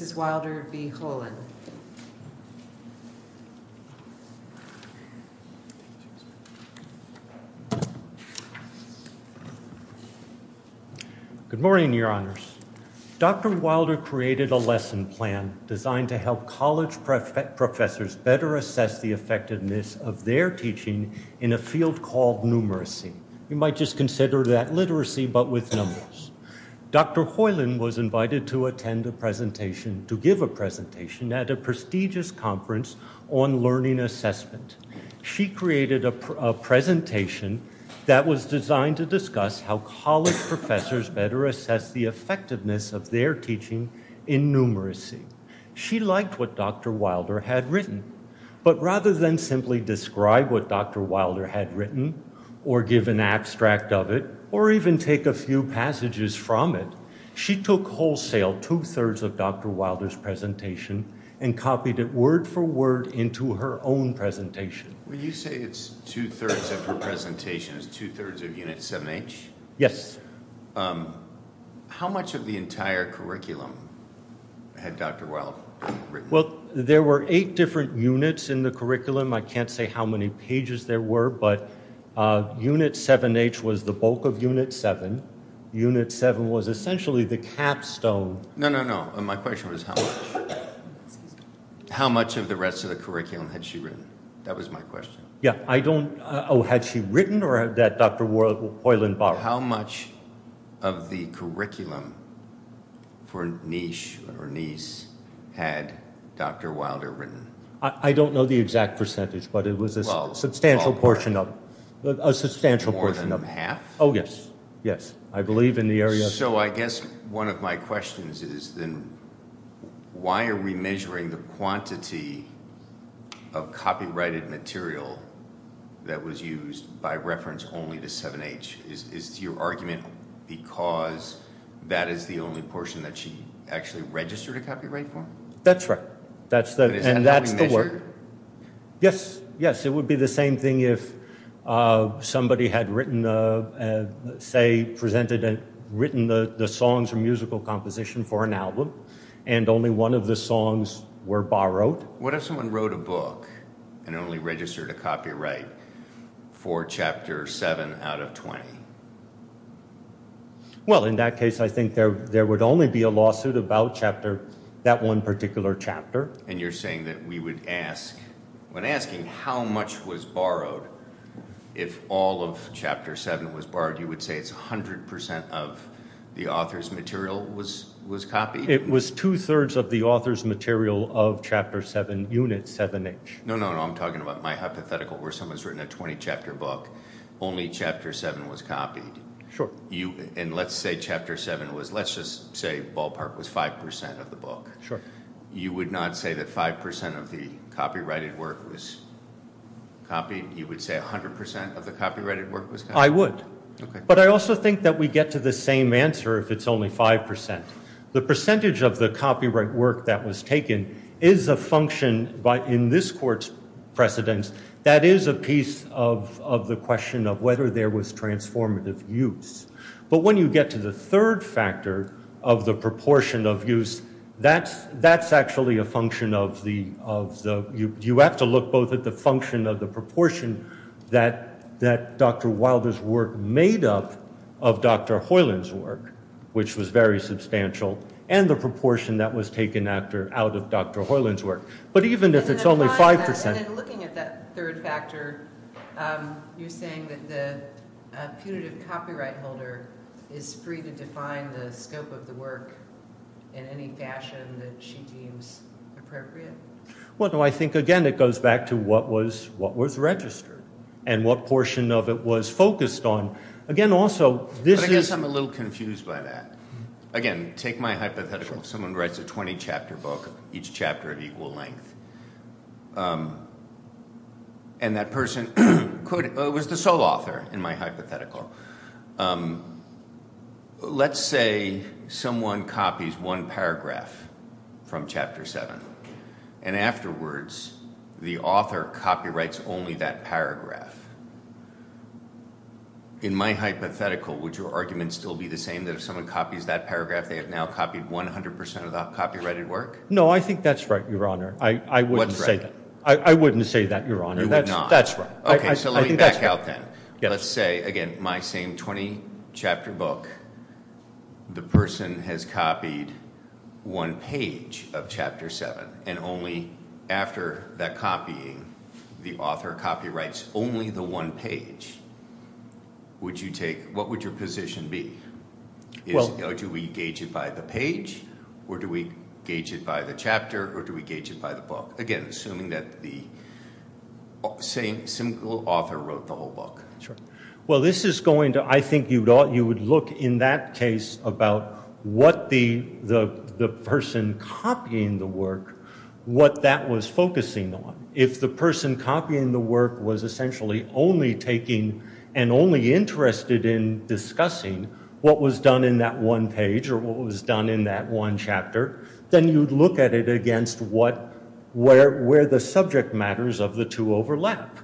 Good morning, your honors. Dr. Wilder created a lesson plan designed to help college professors better assess the effectiveness of their teaching in a field called numeracy. You might just imagine to give a presentation at a prestigious conference on learning assessment. She created a presentation that was designed to discuss how college professors better assess the effectiveness of their teaching in numeracy. She liked what Dr. Wilder had written, but rather than simply describe what Dr. Wilder had written or give an abstract of it or even take a few passages from it, she took wholesale two-thirds of Dr. Wilder's presentation and copied it word for word into her own presentation. When you say it's two-thirds of her presentation, it's two-thirds of Unit 7H? Yes. How much of the entire curriculum had Dr. Wilder written? Well, there were eight different units in the curriculum. I can't say how many pages there were, but Unit 7H was the bulk of Unit 7. Unit 7 was essentially the capstone. No, no, no. My question was how much of the rest of the curriculum had she written? That was my question. Yeah, I don't... Oh, had she written or that Dr. Hoiland borrowed? How much of the curriculum for Niche or Nice had Dr. Wilder written? I don't know the exact percentage, but it was a substantial portion of... More than half? Oh, yes, yes. I believe in the area... So I guess one of my questions is then why are we measuring the quantity of copyrighted material that was used by reference only to 7H? Is it your argument because that is the only portion that she actually registered a copyright for? That's right. And that's the word? Yes, yes. It would be the same thing if somebody had written, say, presented and written the songs or musical composition for an album and only one of the songs were borrowed. What if someone wrote a book and only registered a copyright for Chapter 7 out of 20? Well, in that case, I think there would only be a lawsuit about Chapter... That one particular chapter. And you're saying that we would ask... When asking how much was borrowed, if all of Chapter 7 was borrowed, you would say it's 100% of the author's material was copied? It was two-thirds of the author's material of Chapter 7 Unit 7H. No, no, no. I'm talking about my hypothetical where someone's written a 20-chapter book, only Chapter 7 was copied. Sure. And let's say Chapter 7 was... Let's just say Ballpark was 5% of the book. Sure. You would not say that 5% of the copyrighted work was copied? You would say 100% of the copyrighted work was copied? But when you get to the third factor of the proportion of use, that's actually a function of the... You have to look both at the function of the proportion that Dr. Wilder's work made up of Dr. Hoyland's work, which was very substantial, and the proportion that was taken out of Dr. Hoyland's work. But even if it's only 5%... You're saying that the punitive copyright holder is free to define the scope of the work in any fashion that she deems appropriate? Well, I think, again, it goes back to what was registered and what portion of it was focused on. Again, also, this is... It was the sole author, in my hypothetical. Let's say someone copies one paragraph from Chapter 7, and afterwards, the author copyrights only that paragraph. In my hypothetical, would your argument still be the same, that if someone copies that paragraph, they have now copied 100% of the copyrighted work? No, I think that's right, Your Honor. What's right? I wouldn't say that, Your Honor. You would not? That's right. Okay, so let me back out then. Let's say, again, my same 20-chapter book, the person has copied one page of Chapter 7, and only after that copying, the author copyrights only the one page. What would your position be? Do we gauge it by the page, or do we gauge it by the chapter, or do we gauge it by the book? Again, assuming that the same author wrote the whole book. Well, this is going to... I think you would look in that case about what the person copying the work, what that was focusing on. If the person copying the work was essentially only taking and only interested in discussing what was done in that one page, or what was done in that one chapter, then you'd look at it against where the subject matters of the two overlap.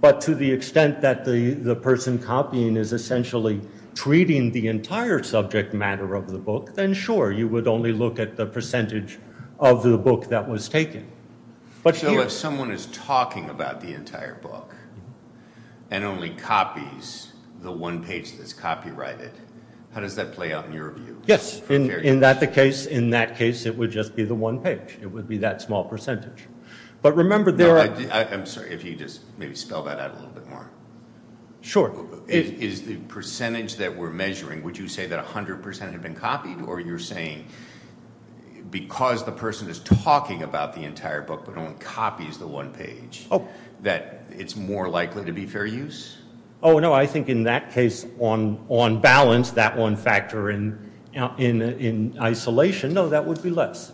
But to the extent that the person copying is essentially treating the entire subject matter of the book, then sure, you would only look at the percentage of the book that was taken. So if someone is talking about the entire book and only copies the one page that's copyrighted, how does that play out in your view? Yes, in that case, it would just be the one page. It would be that small percentage. I'm sorry, if you could just maybe spell that out a little bit more. Sure. Is the percentage that we're measuring, would you say that 100% had been copied, or you're saying because the person is talking about the entire book but only copies the one page, that it's more likely to be fair use? Oh no, I think in that case, on balance, that one factor in isolation, no, that would be less.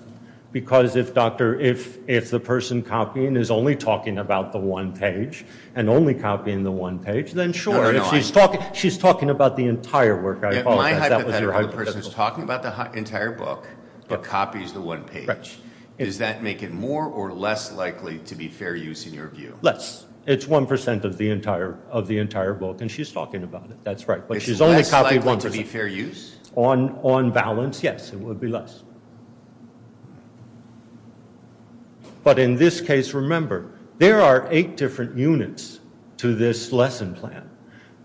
Because if the person copying is only talking about the one page, and only copying the one page, then sure, if she's talking about the entire work, I apologize, that was your hypothetical. If my hypothetical is the person is talking about the entire book, but copies the one page, does that make it more or less likely to be fair use in your view? Less. It's 1% of the entire book, and she's talking about it, that's right. Is less likely to be fair use? On balance, yes, it would be less. But in this case, remember, there are eight different units to this lesson plan.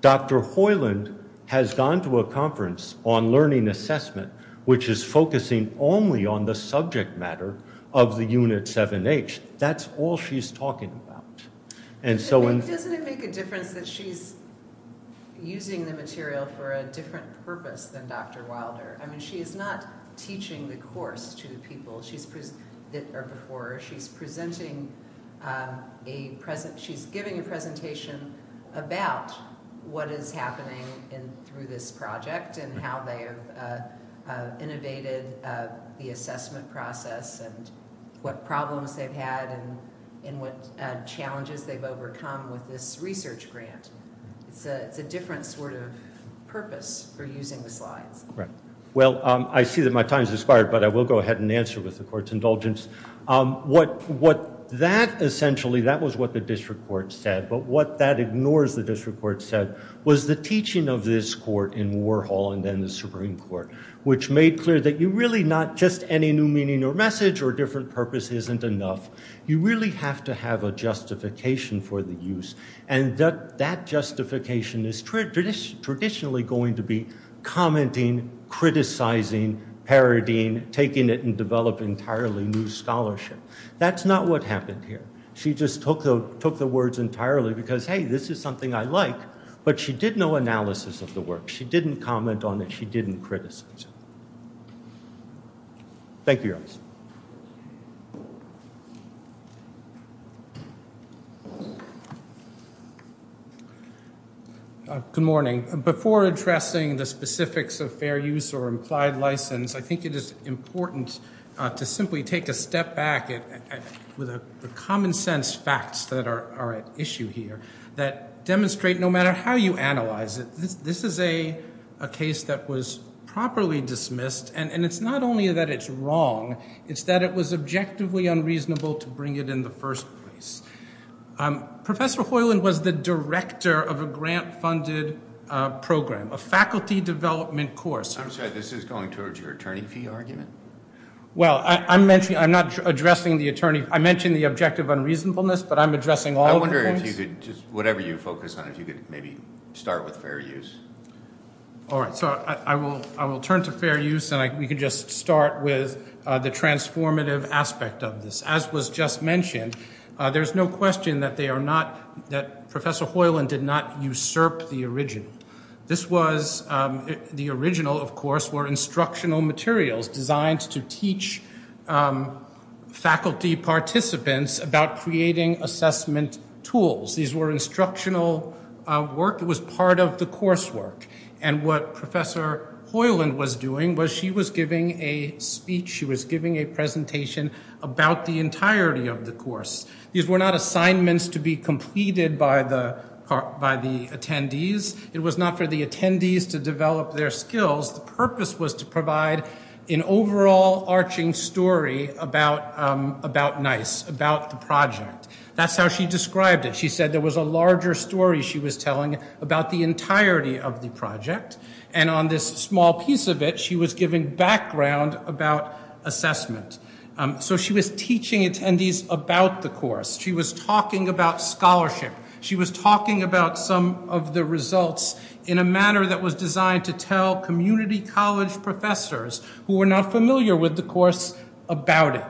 Dr. Hoyland has gone to a conference on learning assessment, which is focusing only on the subject matter of the unit 7H. That's all she's talking about. Doesn't it make a difference that she's using the material for a different purpose than Dr. Wilder? I mean, she is not teaching the course to the people that are before her. She's giving a presentation about what is happening through this project, and how they have innovated the assessment process, and what problems they've had, and what challenges they've overcome with this research grant. It's a different sort of purpose for using the slides. Right. Well, I see that my time has expired, but I will go ahead and answer with the court's indulgence. Essentially, that was what the district court said, but what that ignores the district court said was the teaching of this court in Warhol and then the Supreme Court, which made clear that really not just any new meaning or message or different purpose isn't enough. You really have to have a justification for the use, and that justification is traditionally going to be commenting, criticizing, parodying, taking it and developing entirely new scholarship. That's not what happened here. She just took the words entirely because, hey, this is something I like, but she did no analysis of the work. She didn't comment on it. She didn't criticize it. Thank you, Your Honor. Good morning. Before addressing the specifics of fair use or implied license, I think it is important to simply take a step back with the common sense facts that are at issue here that demonstrate no matter how you analyze it, this is a case that was properly dismissed, and it's not only that it's wrong. It's that it was objectively unreasonable to bring it in the first place. Professor Hoyland was the director of a grant-funded program, a faculty development course. I'm sorry. This is going towards your attorney fee argument? Well, I'm not addressing the attorney. I mentioned the objective unreasonableness, but I'm addressing all of the points. Whatever you focus on, if you could maybe start with fair use. All right. So I will turn to fair use, and we can just start with the transformative aspect of this. As was just mentioned, there's no question that Professor Hoyland did not usurp the original. The original, of course, were instructional materials designed to teach faculty participants about creating assessment tools. These were instructional work that was part of the coursework, and what Professor Hoyland was doing was she was giving a speech. She was giving a presentation about the entirety of the course. These were not assignments to be completed by the attendees. It was not for the attendees to develop their skills. The purpose was to provide an overall arching story about NICE, about the project. That's how she described it. She said there was a larger story she was telling about the entirety of the project, and on this small piece of it, she was giving background about assessment. So she was teaching attendees about the course. She was talking about scholarship. She was talking about some of the results in a manner that was designed to tell community college professors who were not familiar with the course about it.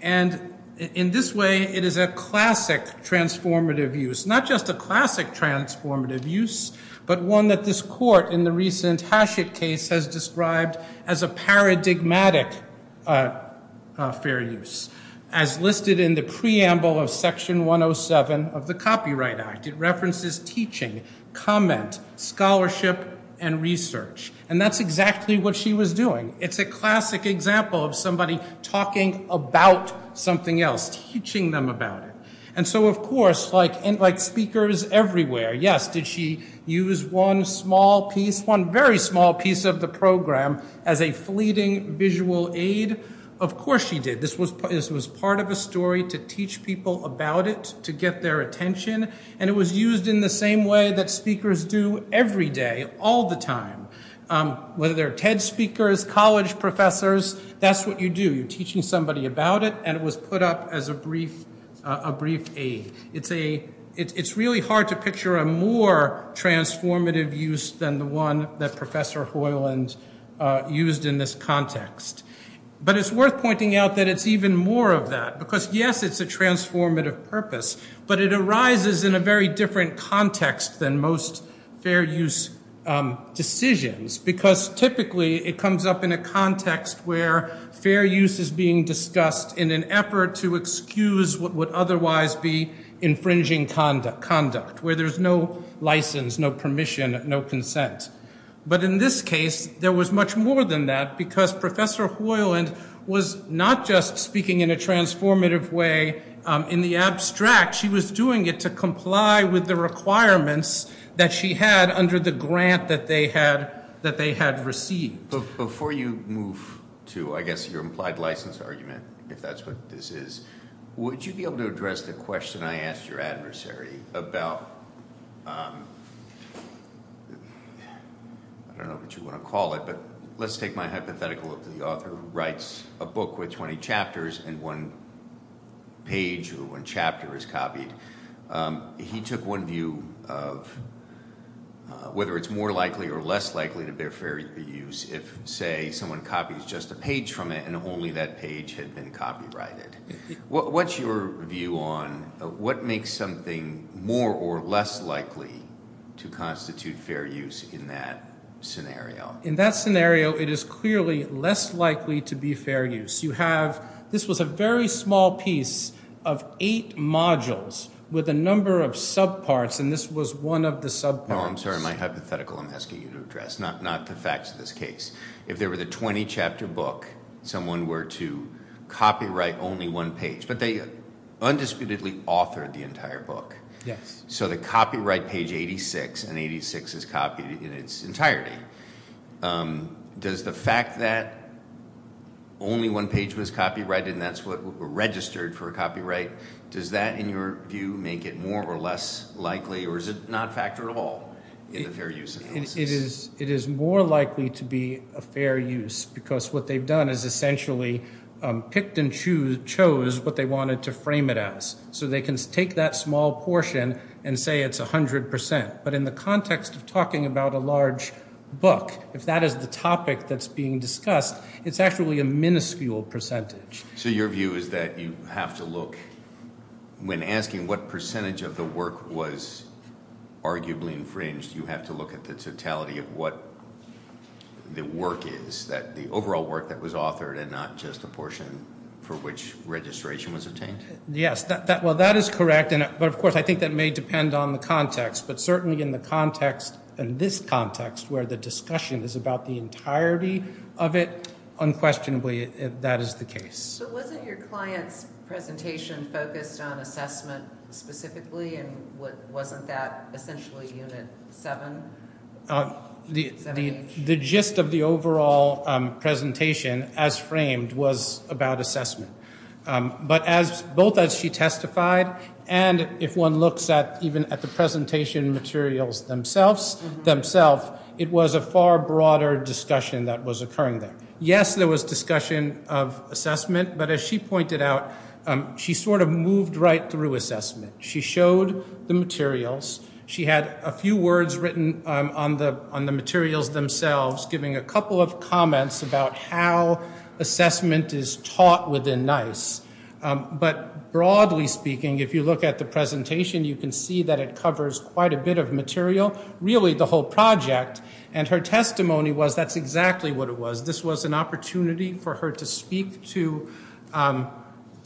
And in this way, it is a classic transformative use, not just a classic transformative use, but one that this court in the recent Hachette case has described as a paradigmatic fair use, as listed in the preamble of Section 107 of the Copyright Act. It references teaching, comment, scholarship, and research, and that's exactly what she was doing. It's a classic example of somebody talking about something else, teaching them about it. And so, of course, like speakers everywhere, yes, did she use one small piece, one very small piece of the program as a fleeting visual aid? Of course she did. This was part of a story to teach people about it, to get their attention, and it was used in the same way that speakers do every day, all the time. Whether they're TED speakers, college professors, that's what you do. You're teaching somebody about it, and it was put up as a brief aid. It's really hard to picture a more transformative use than the one that Professor Hoyland used in this context. But it's worth pointing out that it's even more of that because, yes, it's a transformative purpose, but it arises in a very different context than most fair use decisions because typically it comes up in a context where fair use is being discussed in an effort to excuse what would otherwise be infringing conduct, where there's no license, no permission, no consent. But in this case, there was much more than that because Professor Hoyland was not just speaking in a transformative way in the abstract. She was doing it to comply with the requirements that she had under the grant that they had received. Before you move to, I guess, your implied license argument, if that's what this is, would you be able to address the question I asked your adversary about—I don't know what you want to call it, but let's take my hypothetical of the author who writes a book with 20 chapters and one page or one chapter is copied. He took one view of whether it's more likely or less likely to be a fair use if, say, someone copies just a page from it and only that page had been copyrighted. What's your view on what makes something more or less likely to constitute fair use in that scenario? In that scenario, it is clearly less likely to be fair use. You have—this was a very small piece of eight modules with a number of subparts, and this was one of the subparts. No, I'm sorry, my hypothetical I'm asking you to address, not the facts of this case. If there were the 20-chapter book, someone were to copyright only one page, but they undisputedly authored the entire book. Yes. So the copyright page 86 and 86 is copied in its entirety. Does the fact that only one page was copyrighted and that's what registered for a copyright, does that, in your view, make it more or less likely, or is it not a factor at all in the fair use analysis? It is more likely to be a fair use because what they've done is essentially picked and chose what they wanted to frame it as. So they can take that small portion and say it's 100 percent. But in the context of talking about a large book, if that is the topic that's being discussed, it's actually a minuscule percentage. So your view is that you have to look—when asking what percentage of the work was arguably infringed, you have to look at the totality of what the work is, the overall work that was authored and not just the portion for which registration was obtained? Yes, well, that is correct, but, of course, I think that may depend on the context. But certainly in the context, in this context, where the discussion is about the entirety of it, unquestionably, that is the case. But wasn't your client's presentation focused on assessment specifically? And wasn't that essentially Unit 7? The gist of the overall presentation, as framed, was about assessment. But both as she testified and if one looks at even at the presentation materials themselves, it was a far broader discussion that was occurring there. Yes, there was discussion of assessment, but as she pointed out, she sort of moved right through assessment. She showed the materials. She had a few words written on the materials themselves, giving a couple of comments about how assessment is taught within NICE. But broadly speaking, if you look at the presentation, you can see that it covers quite a bit of material, really the whole project. And her testimony was that's exactly what it was. This was an opportunity for her to speak to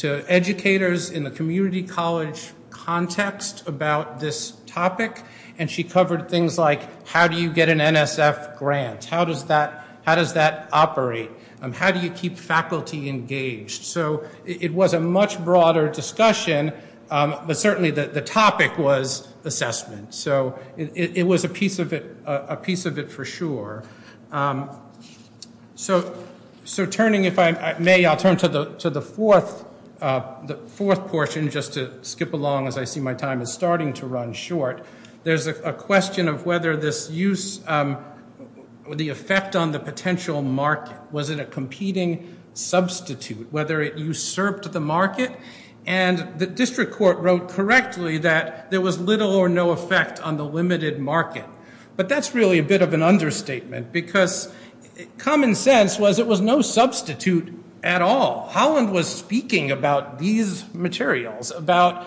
educators in the community college context about this topic. And she covered things like how do you get an NSF grant? How does that operate? How do you keep faculty engaged? So it was a much broader discussion, but certainly the topic was assessment. So it was a piece of it for sure. So turning, if I may, I'll turn to the fourth portion, just to skip along as I see my time is starting to run short. There's a question of whether this use, the effect on the potential market, was it a competing substitute? Whether it usurped the market? And the district court wrote correctly that there was little or no effect on the limited market. But that's really a bit of an understatement because common sense was it was no substitute at all. Holland was speaking about these materials, about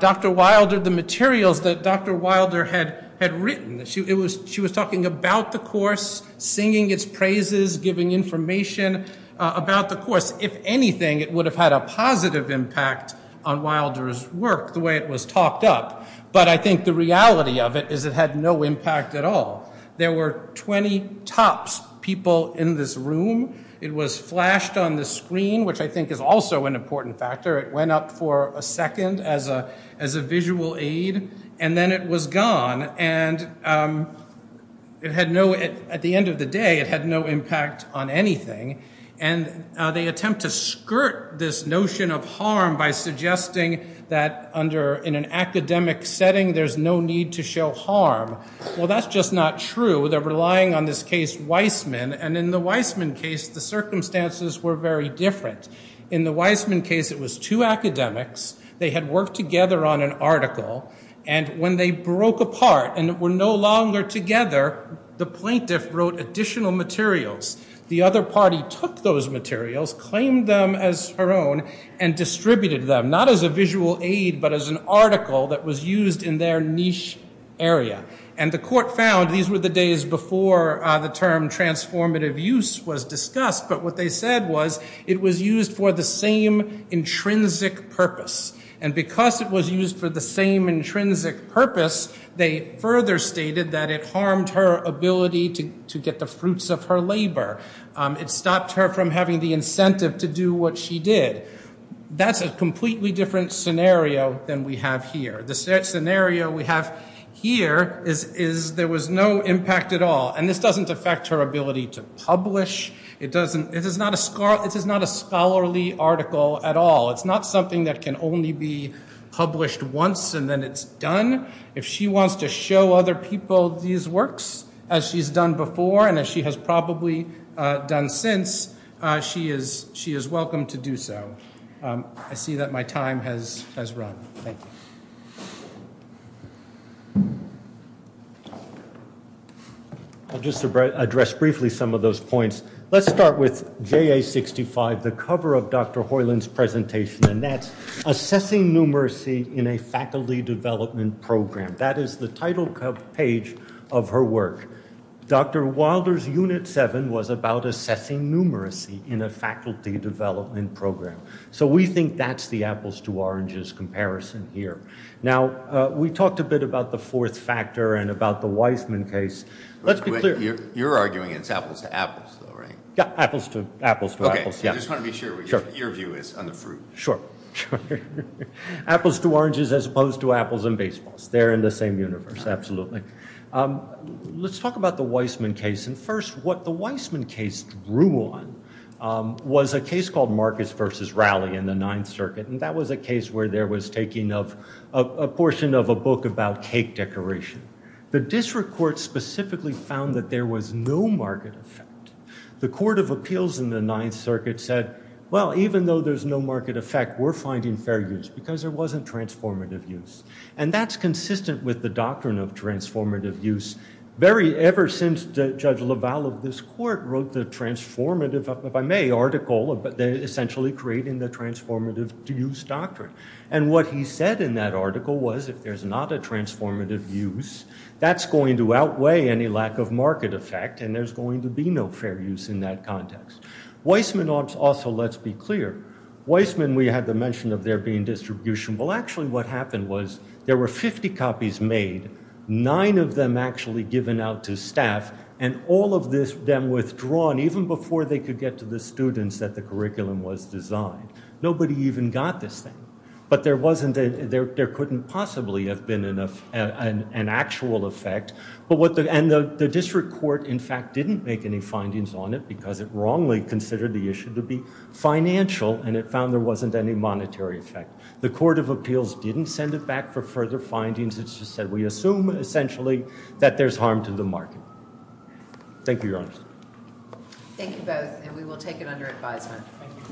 Dr. Wilder, the materials that Dr. Wilder had written. She was talking about the course, singing its praises, giving information about the course. If anything, it would have had a positive impact on Wilder's work, the way it was talked up. But I think the reality of it is it had no impact at all. There were 20 tops people in this room. It was flashed on the screen, which I think is also an important factor. It went up for a second as a visual aid, and then it was gone. And it had no, at the end of the day, it had no impact on anything. And they attempt to skirt this notion of harm by suggesting that in an academic setting, there's no need to show harm. Well, that's just not true. They're relying on this case Weissman. And in the Weissman case, the circumstances were very different. In the Weissman case, it was two academics. They had worked together on an article. And when they broke apart and were no longer together, the plaintiff wrote additional materials. The other party took those materials, claimed them as her own, and distributed them, not as a visual aid, but as an article that was used in their niche area. And the court found, these were the days before the term transformative use was discussed, but what they said was it was used for the same intrinsic purpose. And because it was used for the same intrinsic purpose, they further stated that it harmed her ability to get the fruits of her labor. It stopped her from having the incentive to do what she did. That's a completely different scenario than we have here. The scenario we have here is there was no impact at all. And this doesn't affect her ability to publish. This is not a scholarly article at all. It's not something that can only be published once and then it's done. If she wants to show other people these works, as she's done before and as she has probably done since, she is welcome to do so. I see that my time has run. Thank you. I'll just address briefly some of those points. Let's start with JA65, the cover of Dr. Hoyland's presentation, and that's Assessing Numeracy in a Faculty Development Program. That is the title page of her work. Dr. Wilder's Unit 7 was about assessing numeracy in a faculty development program. So we think that's the apples to oranges comparison here. Now, we talked a bit about the fourth factor and about the Wiseman case. Let's be clear. You're arguing it's apples to apples, though, right? Yeah, apples to apples to apples, yeah. Okay, I just want to be sure what your view is on the fruit. Sure. Apples to oranges as opposed to apples and baseballs. They're in the same universe, absolutely. Let's talk about the Wiseman case. And first, what the Wiseman case drew on was a case called Marcus v. Raleigh in the Ninth Circuit. And that was a case where there was taking of a portion of a book about cake decoration. The district court specifically found that there was no market effect. The Court of Appeals in the Ninth Circuit said, well, even though there's no market effect, we're finding fair use because there wasn't transformative use. And that's consistent with the doctrine of transformative use. Very ever since Judge LaValle of this court wrote the transformative, if I may, article, essentially creating the transformative use doctrine. And what he said in that article was if there's not a transformative use, that's going to outweigh any lack of market effect, and there's going to be no fair use in that context. Wiseman also, let's be clear, Wiseman, we had the mention of there being distribution. Well, actually what happened was there were 50 copies made, nine of them actually given out to staff, and all of them withdrawn, even before they could get to the students that the curriculum was designed. Nobody even got this thing. But there couldn't possibly have been an actual effect. And the district court, in fact, didn't make any findings on it because it wrongly considered the issue to be financial, and it found there wasn't any monetary effect. The Court of Appeals didn't send it back for further findings. It just said we assume, essentially, that there's harm to the market. Thank you, Your Honor. Thank you both, and we will take it under advisement.